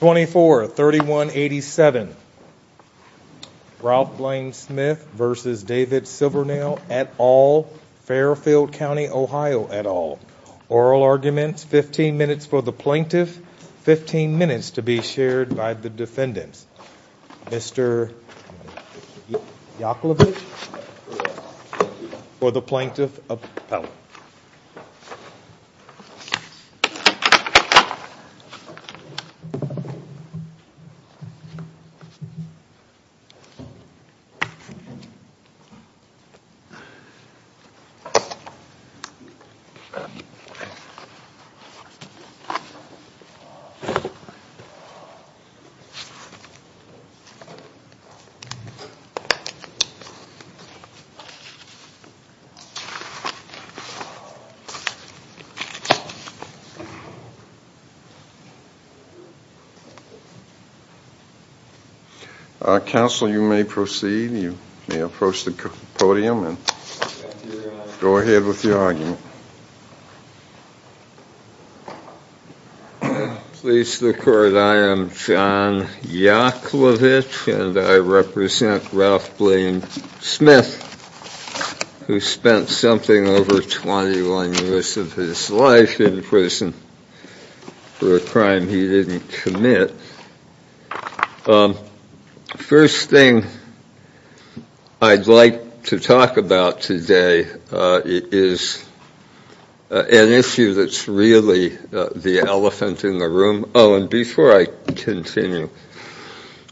24-31-87 Ralph Blaine Smith versus David Silvernail et al. Fairfield County, Ohio et al. Oral arguments, 15 minutes for the plaintiff, 15 minutes to be shared by the defendant, 15 minutes to be shared by the defendant, 15 minutes to be shared by the defendant. Counsel, you may proceed. You may approach the podium and go ahead with your argument. Please the court, I am John Yaklovich and I represent Ralph Blaine Smith who spent over 21 years of his life in prison for a crime he didn't commit. First thing I'd like to talk about today is an issue that's really the elephant in the room. Oh and before I continue,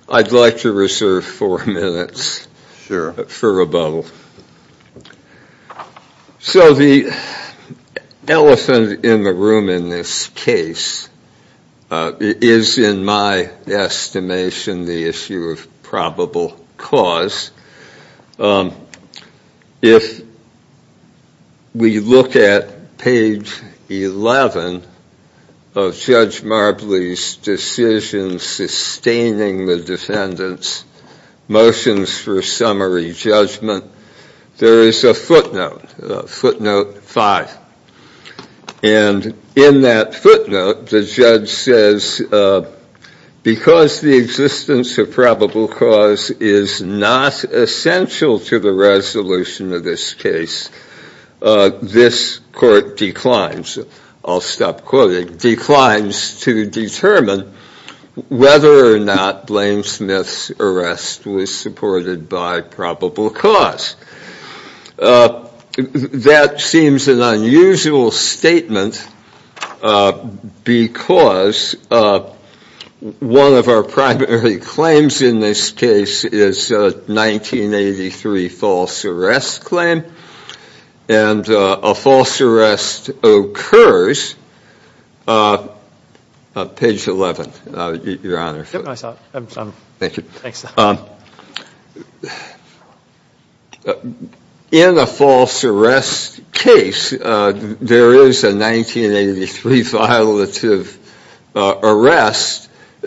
I'd like to reserve four minutes for rebuttal. So the elephant in the room in this case is in my estimation the issue of probable cause. If we look at page 11 of Judge Marbley's decision sustaining the defendant's motions for summary judgment, there is a footnote, footnote five. And in that footnote the judge says because the existence of probable cause is not essential to the resolution of this case, this court declines, I'll stop quoting, declines to determine whether or not Blaine Smith's arrest was supported by probable cause. That seems an unusual statement because one of our primary claims in this case is a 1983 false arrest claim and a false arrest occurs. Page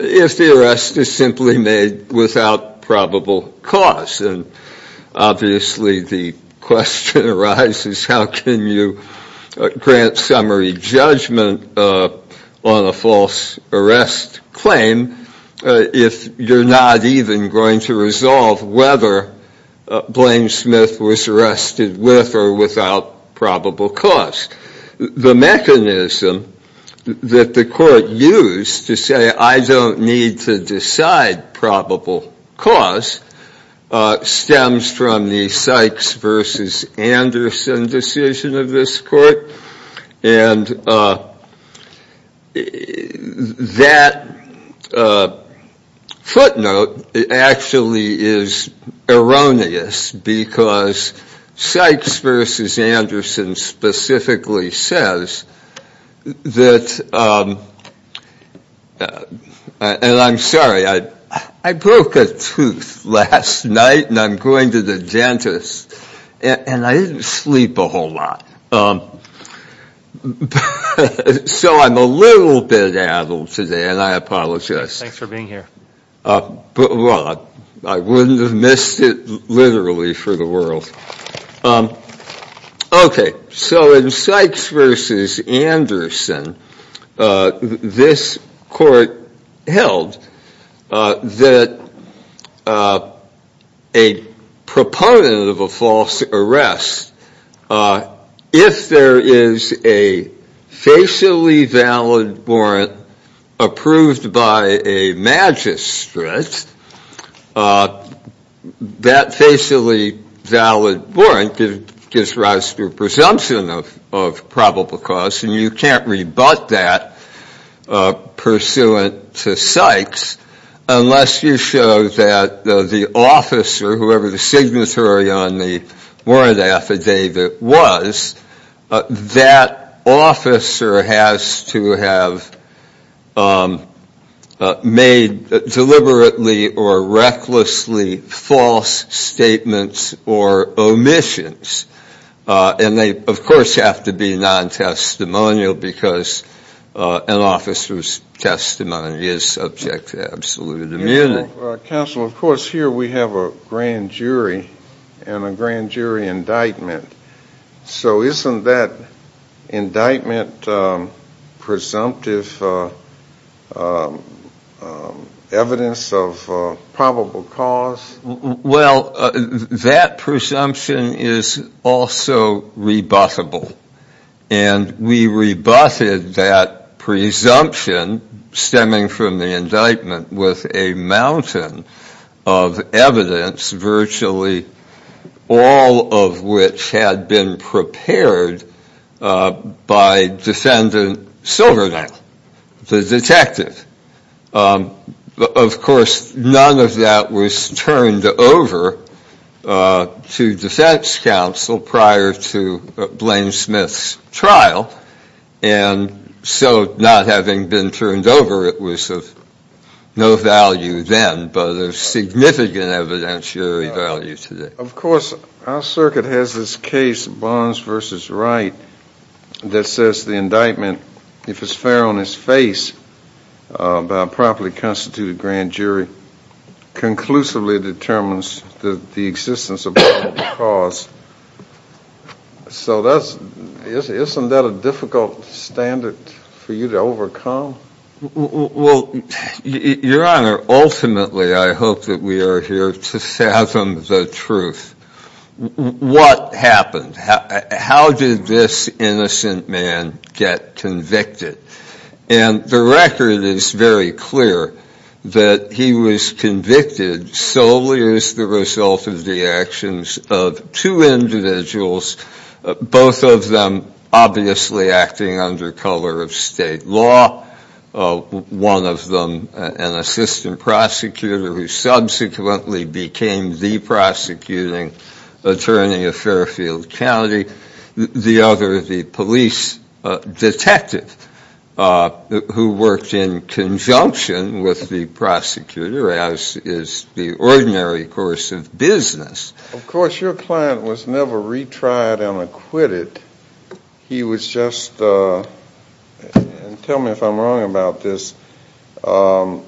if the arrest is simply made without probable cause. And obviously the question arises how can you grant summary judgment on a false arrest claim if you're not even going to resolve whether Blaine was arrested with or without probable cause. The mechanism that the court used to say I don't need to decide probable cause stems from the Sykes versus Anderson decision of this court. And that footnote actually is erroneous because Sykes versus Anderson specifically says that, and I'm sorry, I broke a tooth last night and I'm going to the dentist and I didn't sleep a whole lot. So I'm a little bit addled today and I apologize. Thanks for being here. I wouldn't have missed it literally for the world. Okay, so in Sykes versus Anderson this court held that a proponent of a false arrest if there is a facially valid warrant approved by a magistrate, that facially valid warrant gives rise to a presumption of probable cause and you can't rebut that pursuant to Sykes unless you show that the officer, whoever the signatory on the warrant affidavit was, that officer has to have made deliberately or recklessly false statements or omissions. And they of course have to be non-testimonial because an officer's testimony is subject to absolute immunity. Counsel, of course here we have a grand jury and a grand jury indictment. So isn't that indictment presumptive evidence of probable cause? Well, that presumption is also rebuttable and we rebutted that presumption stemming from the indictment with a mountain of evidence, virtually all of which had been prepared by defendant Silverdale, the detective. Of course none of that was turned over to defense counsel prior to Blaine Smith's trial and so not having been turned over it was of no value then but of significant evidentiary value today. Of course our circuit has this case, Barnes v. Wright, that says the indictment, if it's fair on its face by a properly constituted grand jury, conclusively determines the existence of probable cause. So isn't that a difficult standard for you to overcome? Well, Your Honor, ultimately I hope that we are here to fathom the truth. What happened? How did this innocent man get convicted? And the record is very clear that he was convicted solely as the result of the actions of two individuals, both of them obviously acting under color of state law. One of them an assistant prosecutor who subsequently became the prosecuting attorney of Fairfield County, the other the police detective who worked in conjunction with the prosecutor as is the ordinary course of business. Of course your client was never retried and acquitted, he was just, tell me if I'm wrong about this, there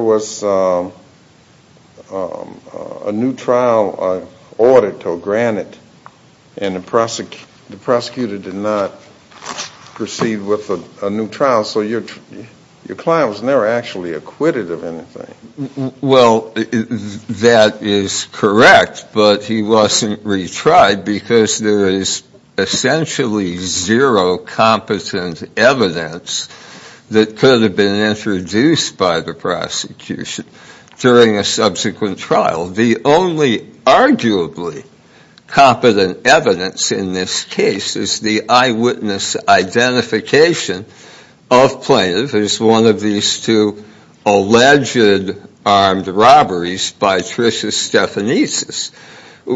was a new trial audit to grant it and the prosecutor did not proceed with a new trial so your client was never actually acquitted of anything. Well, that is correct, but he wasn't retried because there is essentially zero competent evidence that could have been introduced by the prosecution during a subsequent trial. The only arguably competent evidence in this case is the eyewitness identification of plaintiff as one of these two alleged armed robberies by Tricia Stephanitsis.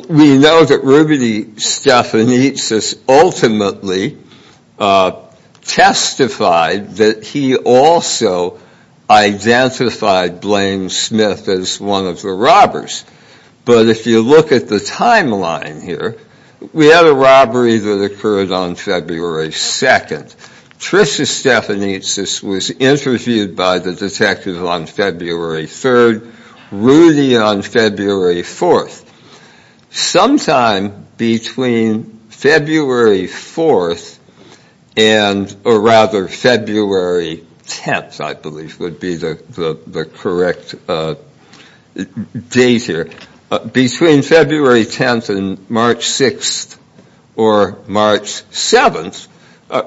We know that Rudy Stephanitsis ultimately testified that he also identified Blaine Smith as one of the robbers, but if you look at the timeline here, we have a robbery that occurred on February 2nd. Tricia Stephanitsis was interviewed by the detective on February 3rd, Rudy on February 4th. Sometime between February 4th and, or rather February 10th I believe would be the correct date here, between February 10th and March 6th or March 7th,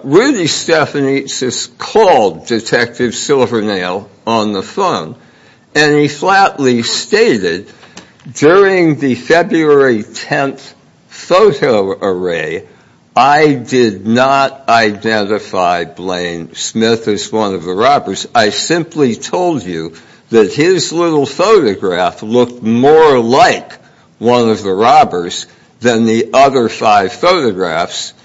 Rudy Stephanitsis called Detective Silvernail on the phone and he flatly stated, during the February 10th photo array I did not identify Blaine Smith as one of the robbers. I simply told you that his little photograph looked more like one of the robbers than the other five photographs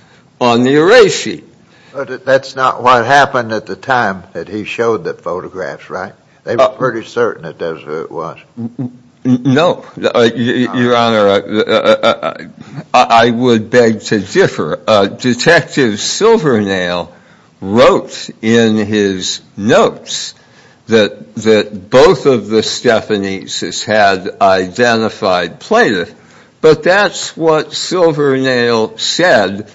on the array sheet. But that's not what happened at the time that he showed the photographs, right? They were pretty certain that that's who it was. No, Your Honor, I would beg to differ. Detective Silvernail wrote in his notes that both of the Stephanitsis had identified plaintiff, but that's what Silvernail said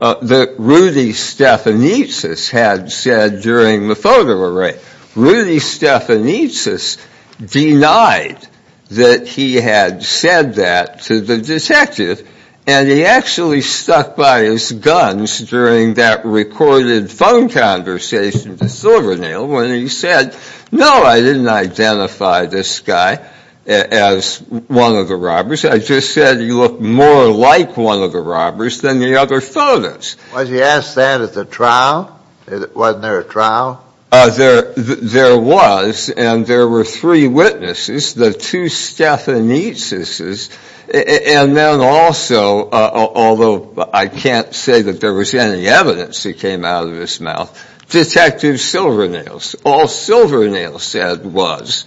that Rudy Stephanitsis had said during the photo array. Rudy Stephanitsis denied that he had said that to the detective and he actually stuck by his guns during that recorded phone conversation to Silvernail when he said, no, I didn't identify this guy as one of the robbers, I just said he looked more like one of the robbers than the other photos. Was he asked that at the trial? Wasn't there a trial? There was and there were three witnesses, the two Stephanitsises and then also, although I can't say that there was any evidence that came out of his mouth, Detective Silvernail. All Silvernail said was,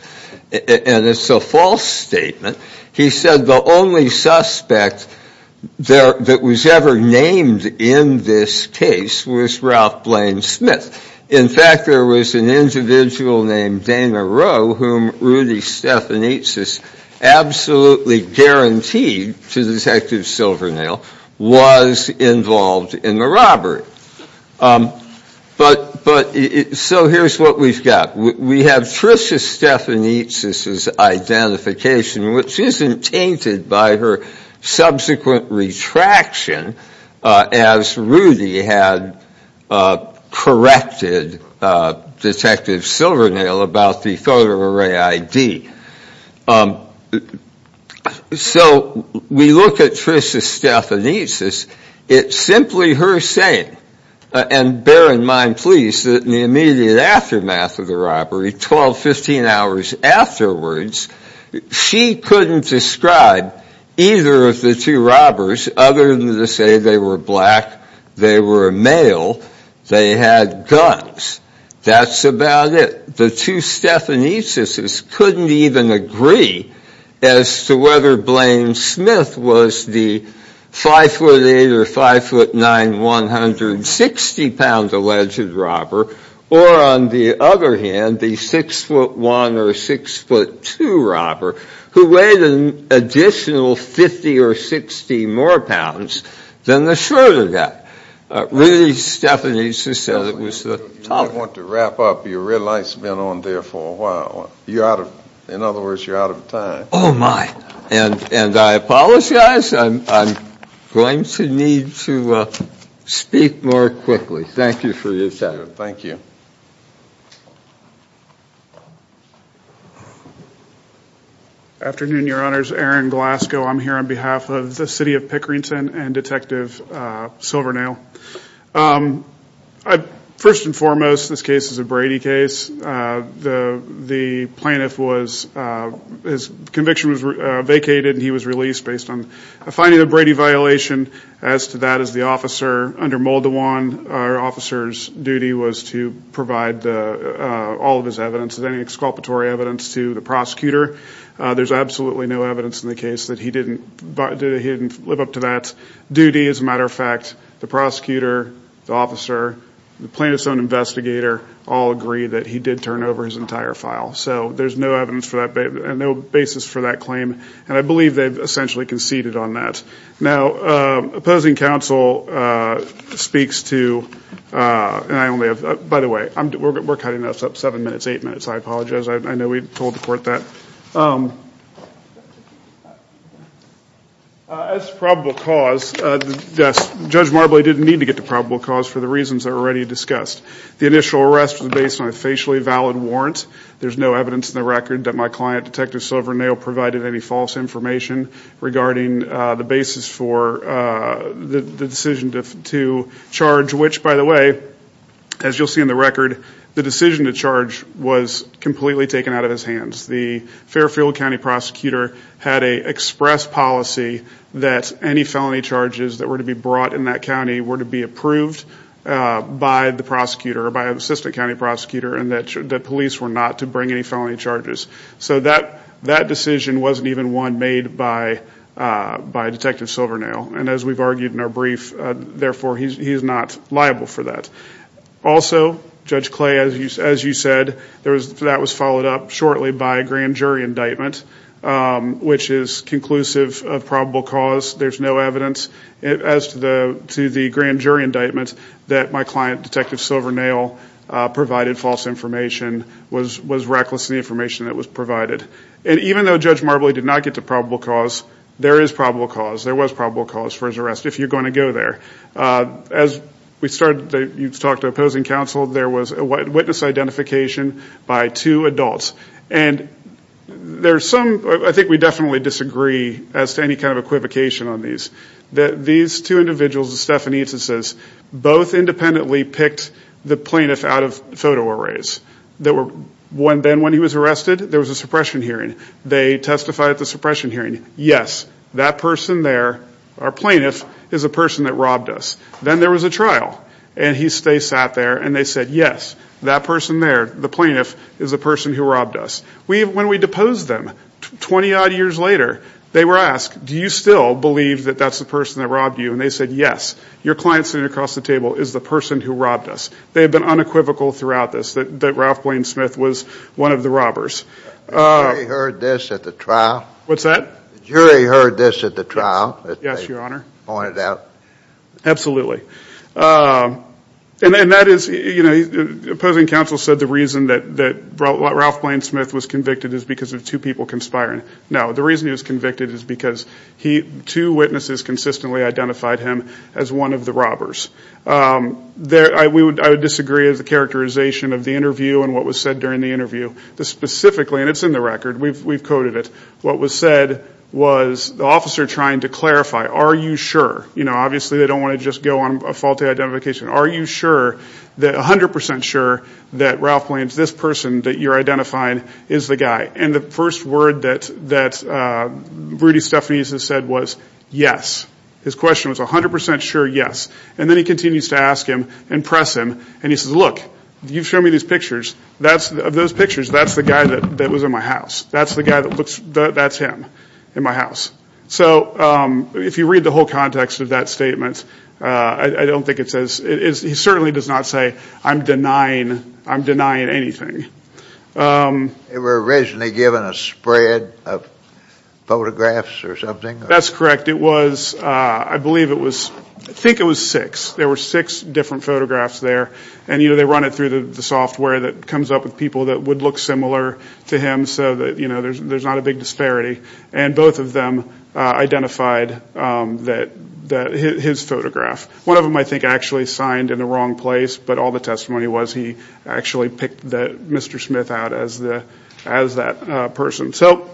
and it's a false statement, he said the only suspect that was ever named in this case was Ralph Blaine Smith. In fact, there was an individual named Dana Rowe whom Rudy Stephanitsis absolutely guaranteed to Detective Silvernail was involved in the robbery. So here's what we've got. We have Tricia Stephanitsis' identification, which isn't tainted by her subsequent retraction as Rudy had corrected Detective Silvernail about the photo array ID. So we look at Tricia Stephanitsis, it's simply her saying, and bear in mind please that in the immediate aftermath of the robbery, 12, 15 hours afterwards, she couldn't describe either of the two robbers other than to say they were black, they were male, they had guns. That's about it. The two Stephanitsises couldn't even agree as to whether Blaine Smith was the 5'8 or 5'9, 160 pound alleged robber, or on the other hand, the 6'1 or 6'2 robber who weighed an additional 50 or 60 more pounds than the shorter guy. Rudy Stephanitsis said it was the top one. I want to wrap up. Your red light's been on there for a while. In other words, you're out of time. Oh, my. And I apologize. I'm going to need to speak more quickly. Thank you for your time. Thank you. Afternoon, Your Honors. Aaron Glasgow. I'm here on behalf of the City of Pickerington and Detective Silvernail. First and foremost, this case is a Brady case. The plaintiff was, his conviction was vacated and he was released based on a finding of a Brady violation. As to that, as the officer, under Muldawan, our officer's duty was to provide all of his evidence, any exculpatory evidence to the prosecutor. There's absolutely no evidence in the case that he didn't live up to that duty. As a matter of fact, the prosecutor, the officer, the plaintiff's own investigator all agree that he did turn over his entire file. So there's no evidence for that and no basis for that claim. And I believe they've essentially conceded on that. Now, opposing counsel speaks to, and I only have, by the way, we're cutting this up seven minutes, eight minutes. I apologize. I know we told the court that. As to probable cause, Judge Marbley didn't need to get to probable cause for the reasons that were already discussed. The initial arrest was based on a facially valid warrant. There's no evidence in the record that my client, Detective Silvernail, provided any false information regarding the basis for the decision to charge, which, by the way, as you'll see in the record, the decision to charge was completely taken out of his hands. The Fairfield County prosecutor had an express policy that any felony charges that were to be brought in that county were to be approved by the prosecutor, by an assistant county prosecutor, and that police were not to bring any felony charges. So that decision wasn't even one made by Detective Silvernail. And as we've argued in our brief, therefore, he's not liable for that. Also, Judge Clay, as you said, that was followed up shortly by a grand jury indictment, which is conclusive of probable cause. There's no evidence. As to the grand jury indictment, that my client, Detective Silvernail, provided false information was reckless in the information that was provided. And even though Judge Marbley did not get to probable cause, there is probable cause. There was probable cause for his arrest, if you're going to go there. As we started to talk to opposing counsel, there was a witness identification by two adults. And there's some – I think we definitely disagree as to any kind of equivocation on these. These two individuals, the Stephanites, both independently picked the plaintiff out of photo arrays. Then when he was arrested, there was a suppression hearing. They testified at the suppression hearing. Yes, that person there, our plaintiff, is the person that robbed us. Then there was a trial. And they sat there, and they said, yes, that person there, the plaintiff, is the person who robbed us. When we deposed them, 20-odd years later, they were asked, do you still believe that that's the person that robbed you? And they said, yes, your client sitting across the table is the person who robbed us. They have been unequivocal throughout this that Ralph Blaine Smith was one of the robbers. The jury heard this at the trial. What's that? The jury heard this at the trial. Yes, your Honor. They pointed out. Absolutely. And that is – opposing counsel said the reason that Ralph Blaine Smith was convicted is because of two people conspiring. No, the reason he was convicted is because two witnesses consistently identified him as one of the robbers. I would disagree as a characterization of the interview and what was said during the interview. Specifically, and it's in the record. We've coded it. What was said was the officer trying to clarify, are you sure? You know, obviously they don't want to just go on a faulty identification. Are you sure that – 100% sure that Ralph Blaine, this person that you're identifying, is the guy? And the first word that Rudy Stephanies has said was yes. His question was 100% sure yes. And then he continues to ask him and press him, and he says, look, you've shown me these pictures. Of those pictures, that's the guy that was in my house. That's the guy that looks – that's him in my house. So if you read the whole context of that statement, I don't think it says – he certainly does not say I'm denying anything. They were originally given a spread of photographs or something? That's correct. I believe it was – I think it was six. There were six different photographs there. And, you know, they run it through the software that comes up with people that would look similar to him so that, you know, there's not a big disparity. And both of them identified his photograph. One of them, I think, actually signed in the wrong place, but all the testimony was he actually picked Mr. Smith out as that person. So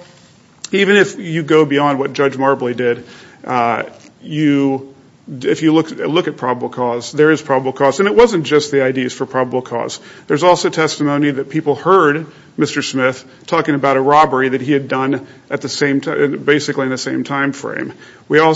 even if you go beyond what Judge Marbley did, you – if you look at probable cause, there is probable cause. And it wasn't just the IDs for probable cause. There's also testimony that people heard Mr. Smith talking about a robbery that he had done at the same – basically in the same timeframe.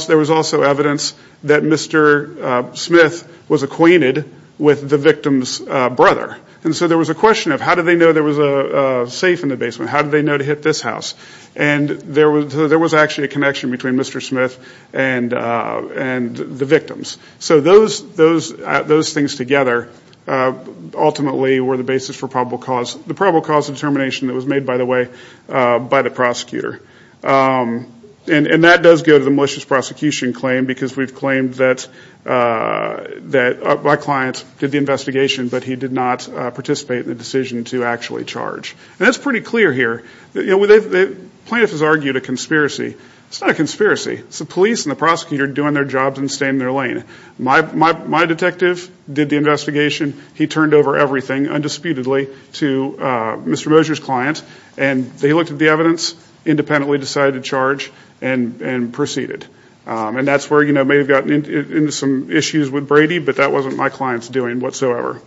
There was also evidence that Mr. Smith was acquainted with the victim's brother. And so there was a question of how did they know there was a safe in the basement? How did they know to hit this house? And there was actually a connection between Mr. Smith and the victims. So those things together ultimately were the basis for probable cause. The probable cause determination that was made, by the way, by the prosecutor. And that does go to the malicious prosecution claim because we've claimed that a black client did the investigation, but he did not participate in the decision to actually charge. And that's pretty clear here. You know, plaintiffs have argued a conspiracy. It's not a conspiracy. It's the police and the prosecutor doing their jobs and staying in their lane. My detective did the investigation. He turned over everything, undisputedly, to Mr. Moser's client. And they looked at the evidence, independently decided to charge, and proceeded. And that's where, you know, may have gotten into some issues with Brady, but that wasn't my client's doing whatsoever.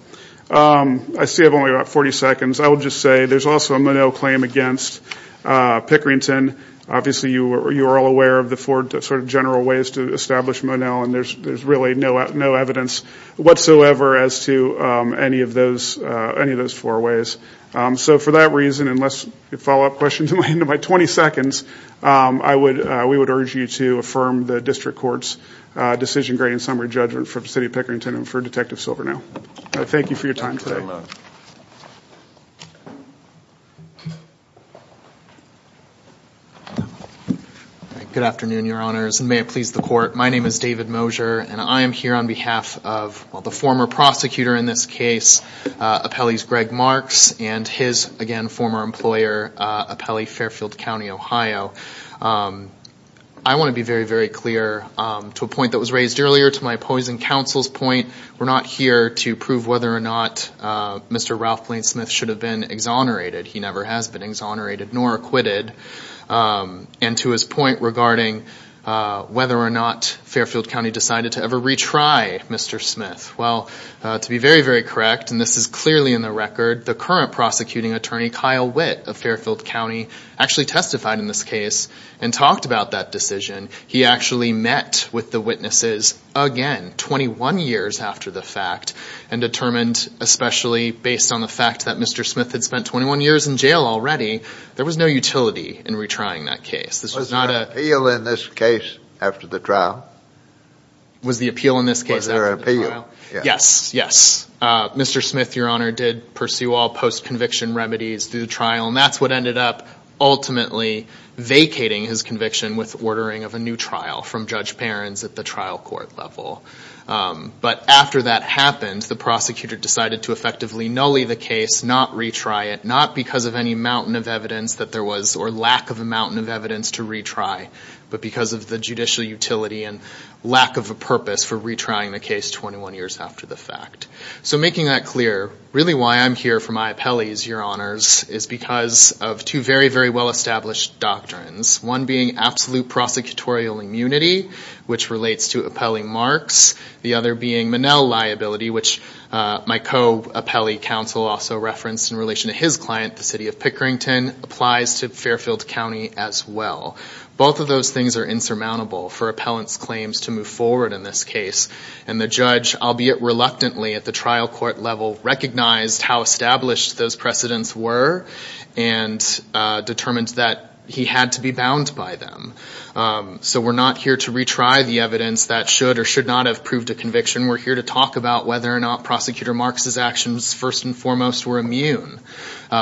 I still have only about 40 seconds. I will just say there's also a Monell claim against Pickerington. Obviously, you are all aware of the four sort of general ways to establish Monell, and there's really no evidence whatsoever as to any of those four ways. So for that reason, unless you follow up questions at the end of my 20 seconds, we would urge you to affirm the district court's decision-grading summary judgment for the city of Pickerington and for Detective Silvernow. Thank you for your time today. Good afternoon, Your Honors, and may it please the court. My name is David Moser, and I am here on behalf of the former prosecutor in this case, Appellee's Greg Marks, and his, again, former employer, Appellee Fairfield County, Ohio. I want to be very, very clear to a point that was raised earlier to my opposing counsel's point. We're not here to prove whether or not Mr. Ralph Blaine Smith should have been exonerated. He never has been exonerated nor acquitted. And to his point regarding whether or not Fairfield County decided to ever retry Mr. Smith. Well, to be very, very correct, and this is clearly in the record, the current prosecuting attorney, Kyle Witt of Fairfield County, actually testified in this case and talked about that decision. He actually met with the witnesses again, 21 years after the fact, and determined especially based on the fact that Mr. Smith had spent 21 years in jail already, there was no utility in retrying that case. Was there an appeal in this case after the trial? Was the appeal in this case after the trial? Was there an appeal? Yes, yes. Mr. Smith, Your Honor, did pursue all post-conviction remedies through the trial, and that's what ended up ultimately vacating his conviction with ordering of a new trial from Judge Behrens at the trial court level. But after that happened, the prosecutor decided to effectively nully the case, not retry it, not because of any mountain of evidence that there was or lack of a mountain of evidence to retry, but because of the judicial utility and lack of a purpose for retrying the case 21 years after the fact. So making that clear, really why I'm here for my appellees, Your Honors, is because of two very, very well-established doctrines, one being absolute prosecutorial immunity, which relates to appellee marks, the other being Minnell liability, which my co-appellee counsel also referenced in relation to his client, the City of Pickerington, applies to Fairfield County as well. Both of those things are insurmountable for appellant's claims to move forward in this case, and the judge, albeit reluctantly at the trial court level, recognized how established those precedents were and determined that he had to be bound by them. So we're not here to retry the evidence that should or should not have proved a conviction. We're here to talk about whether or not Prosecutor Marks's actions first and foremost were immune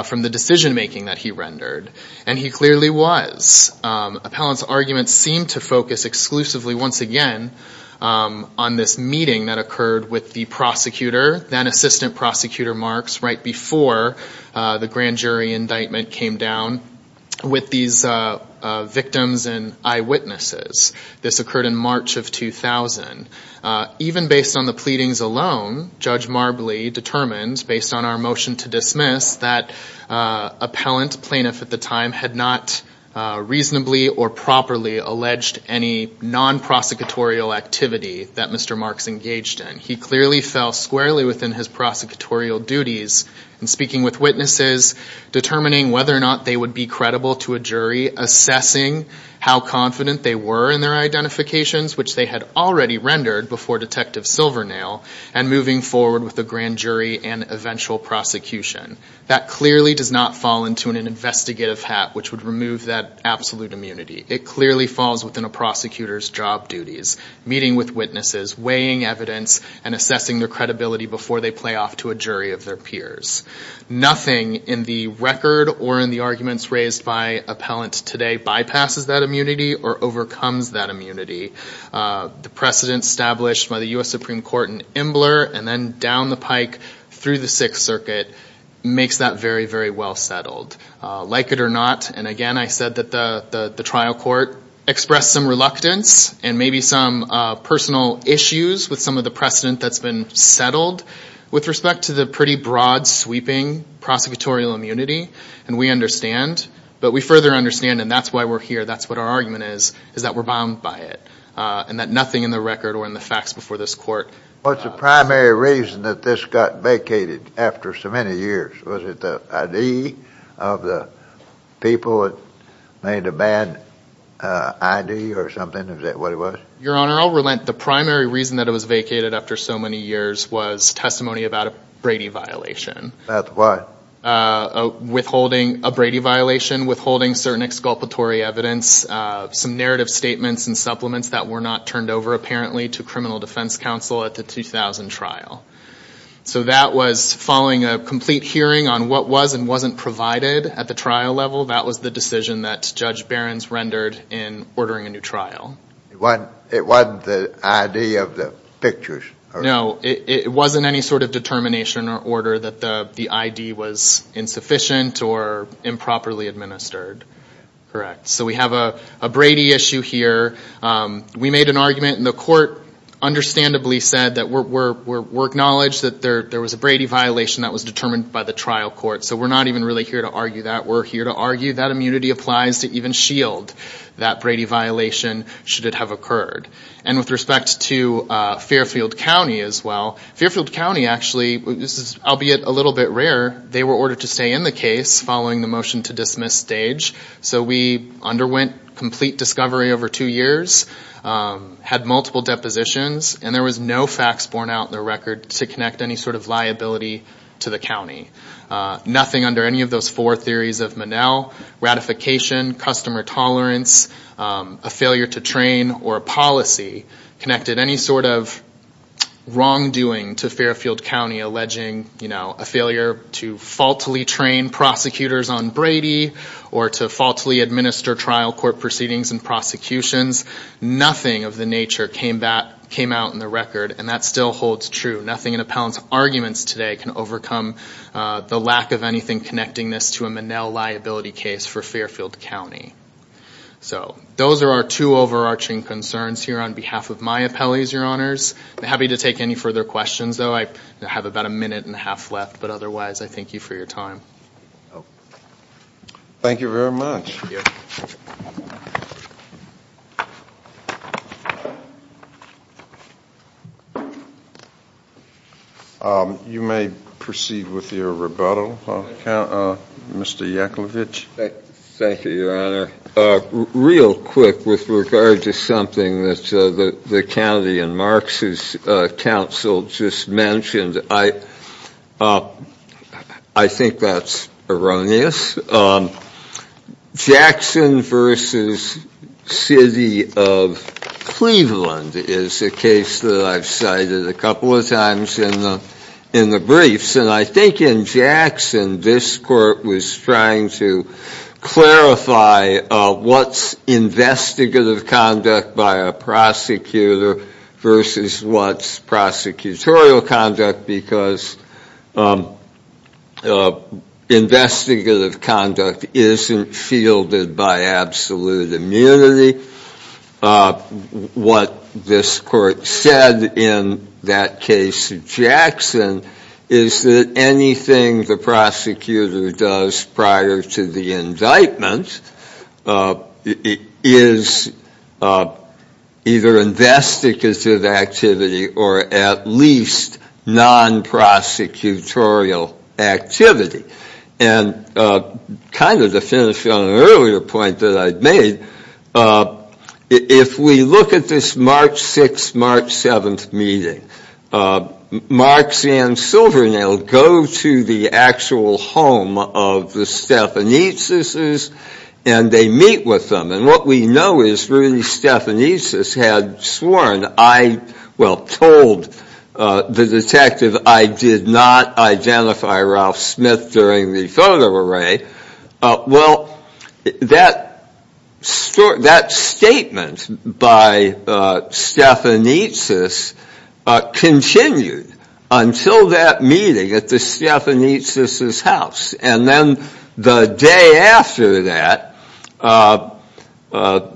from the decision-making that he rendered, and he clearly was. Appellant's arguments seemed to focus exclusively, once again, on this meeting that occurred with the prosecutor, then-assistant Prosecutor Marks, right before the grand jury indictment came down, with these victims and eyewitnesses. This occurred in March of 2000. Even based on the pleadings alone, Judge Marbley determined, based on our motion to dismiss, that appellant, plaintiff at the time, had not reasonably or properly alleged any non-prosecutorial activity that Mr. Marks engaged in. He clearly fell squarely within his prosecutorial duties in speaking with witnesses, determining whether or not they would be credible to a jury, assessing how confident they were in their identifications, which they had already rendered before Detective Silvernail, and moving forward with the grand jury and eventual prosecution. That clearly does not fall into an investigative hat, which would remove that absolute immunity. It clearly falls within a prosecutor's job duties, meeting with witnesses, weighing evidence, and assessing their credibility before they play off to a jury of their peers. Nothing in the record or in the arguments raised by appellants today bypasses that immunity or overcomes that immunity. The precedent established by the U.S. Supreme Court in Imbler, and then down the pike through the Sixth Circuit, makes that very, very well settled. Like it or not, and again I said that the trial court expressed some reluctance and maybe some personal issues with some of the precedent that's been settled with respect to the pretty broad-sweeping prosecutorial immunity, and we understand. But we further understand, and that's why we're here. That's what our argument is, is that we're bound by it. And that nothing in the record or in the facts before this court... What's the primary reason that this got vacated after so many years? Was it the ID of the people that made a bad ID or something? Is that what it was? Your Honor, I'll relent. The primary reason that it was vacated after so many years was testimony about a Brady violation. About what? Withholding a Brady violation, withholding certain exculpatory evidence, some narrative statements and supplements that were not turned over apparently to criminal defense counsel at the 2000 trial. So that was following a complete hearing on what was and wasn't provided at the trial level. That was the decision that Judge Behrens rendered in ordering a new trial. It wasn't the ID of the pictures? No, it wasn't any sort of determination or order that the ID was insufficient or improperly administered. Correct. So we have a Brady issue here. We made an argument, and the court understandably said that we're acknowledged that there was a Brady violation that was determined by the trial court. So we're not even really here to argue that. We're here to argue that immunity applies to even S.H.I.E.L.D., that Brady violation should it have occurred. And with respect to Fairfield County as well, Fairfield County actually, albeit a little bit rare, they were ordered to stay in the case following the motion to dismiss stage. So we underwent complete discovery over two years, had multiple depositions, and there was no facts borne out in the record to connect any sort of liability to the county. Nothing under any of those four theories of Monell, ratification, customer tolerance, a failure to train, or a policy connected any sort of wrongdoing to Fairfield County alleging a failure to faultily train prosecutors on Brady or to faultily administer trial court proceedings and prosecutions. Nothing of the nature came out in the record, and that still holds true. Nothing in Appellant's arguments today can overcome the lack of anything connecting this to a Monell liability case for Fairfield County. So those are our two overarching concerns here on behalf of my appellees, Your Honors. I'm happy to take any further questions, though I have about a minute and a half left, but otherwise I thank you for your time. Thank you very much. You may proceed with your rebuttal, Mr. Yaklovich. Thank you, Your Honor. Real quick with regard to something that the county and Marks' counsel just mentioned. I think that's erroneous. Jackson v. City of Cleveland is a case that I've cited a couple of times in the briefs, and I think in Jackson this court was trying to clarify what's investigative conduct by a prosecutor versus what's prosecutorial conduct because investigative conduct isn't fielded by absolute immunity. What this court said in that case of Jackson is that anything the prosecutor does prior to the indictment is either investigative activity or at least non-prosecutorial activity. And kind of to finish on an earlier point that I'd made, if we look at this March 6th, March 7th meeting, Marks and Silvernail go to the actual home of the Stephanisis' and they meet with them. And what we know is really Stephanisis had sworn, well, told the detective, I did not identify Ralph Smith during the photo array. Well, that statement by Stephanisis continued until that meeting at the Stephanisis' house. And then the day after that, Ralph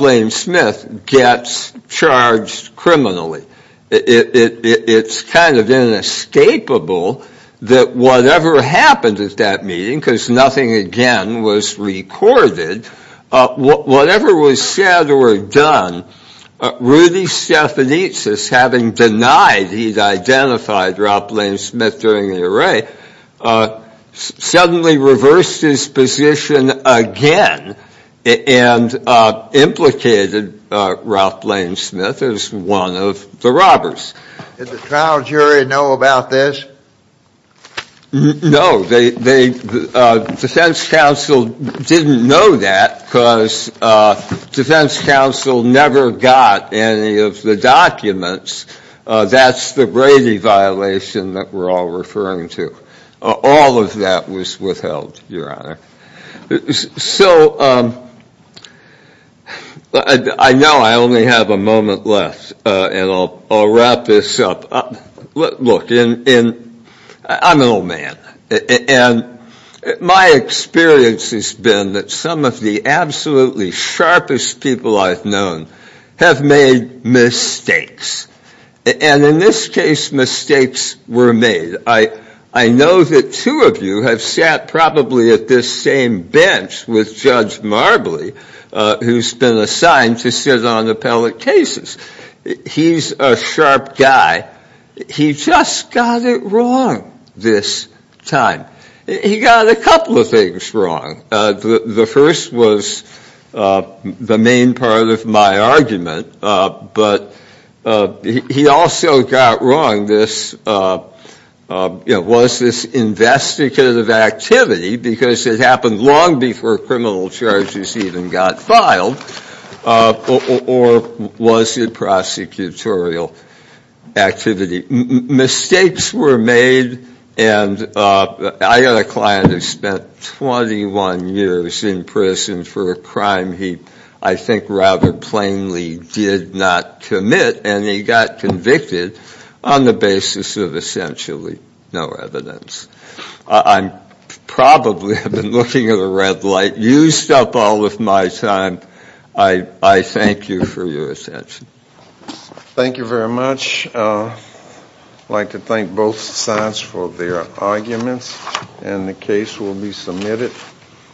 Blaine Smith gets charged criminally. It's kind of inescapable that whatever happened at that meeting, because nothing again was recorded, whatever was said or done, Rudy Stephanisis, having denied he'd identified Ralph Blaine Smith during the array, suddenly reversed his position again and implicated Ralph Blaine Smith as one of the robbers. Did the trial jury know about this? No. The defense counsel didn't know that because defense counsel never got any of the documents. That's the Brady violation that we're all referring to. All of that was withheld, Your Honor. So I know I only have a moment left, and I'll wrap this up. Look, I'm an old man. And my experience has been that some of the absolutely sharpest people I've known have made mistakes. And in this case, mistakes were made. I know that two of you have sat probably at this same bench with Judge Marbley, who's been assigned to sit on appellate cases. He's a sharp guy. He just got it wrong this time. He got a couple of things wrong. The first was the main part of my argument. But he also got wrong this, you know, was this investigative activity, because it happened long before criminal charges even got filed, or was it prosecutorial activity? Mistakes were made, and I got a client who spent 21 years in prison for a crime he, I think, rather plainly did not commit, and he got convicted on the basis of essentially no evidence. I probably have been looking at a red light, used up all of my time. I thank you for your attention. Thank you very much. I'd like to thank both sides for their arguments, and the case will be submitted.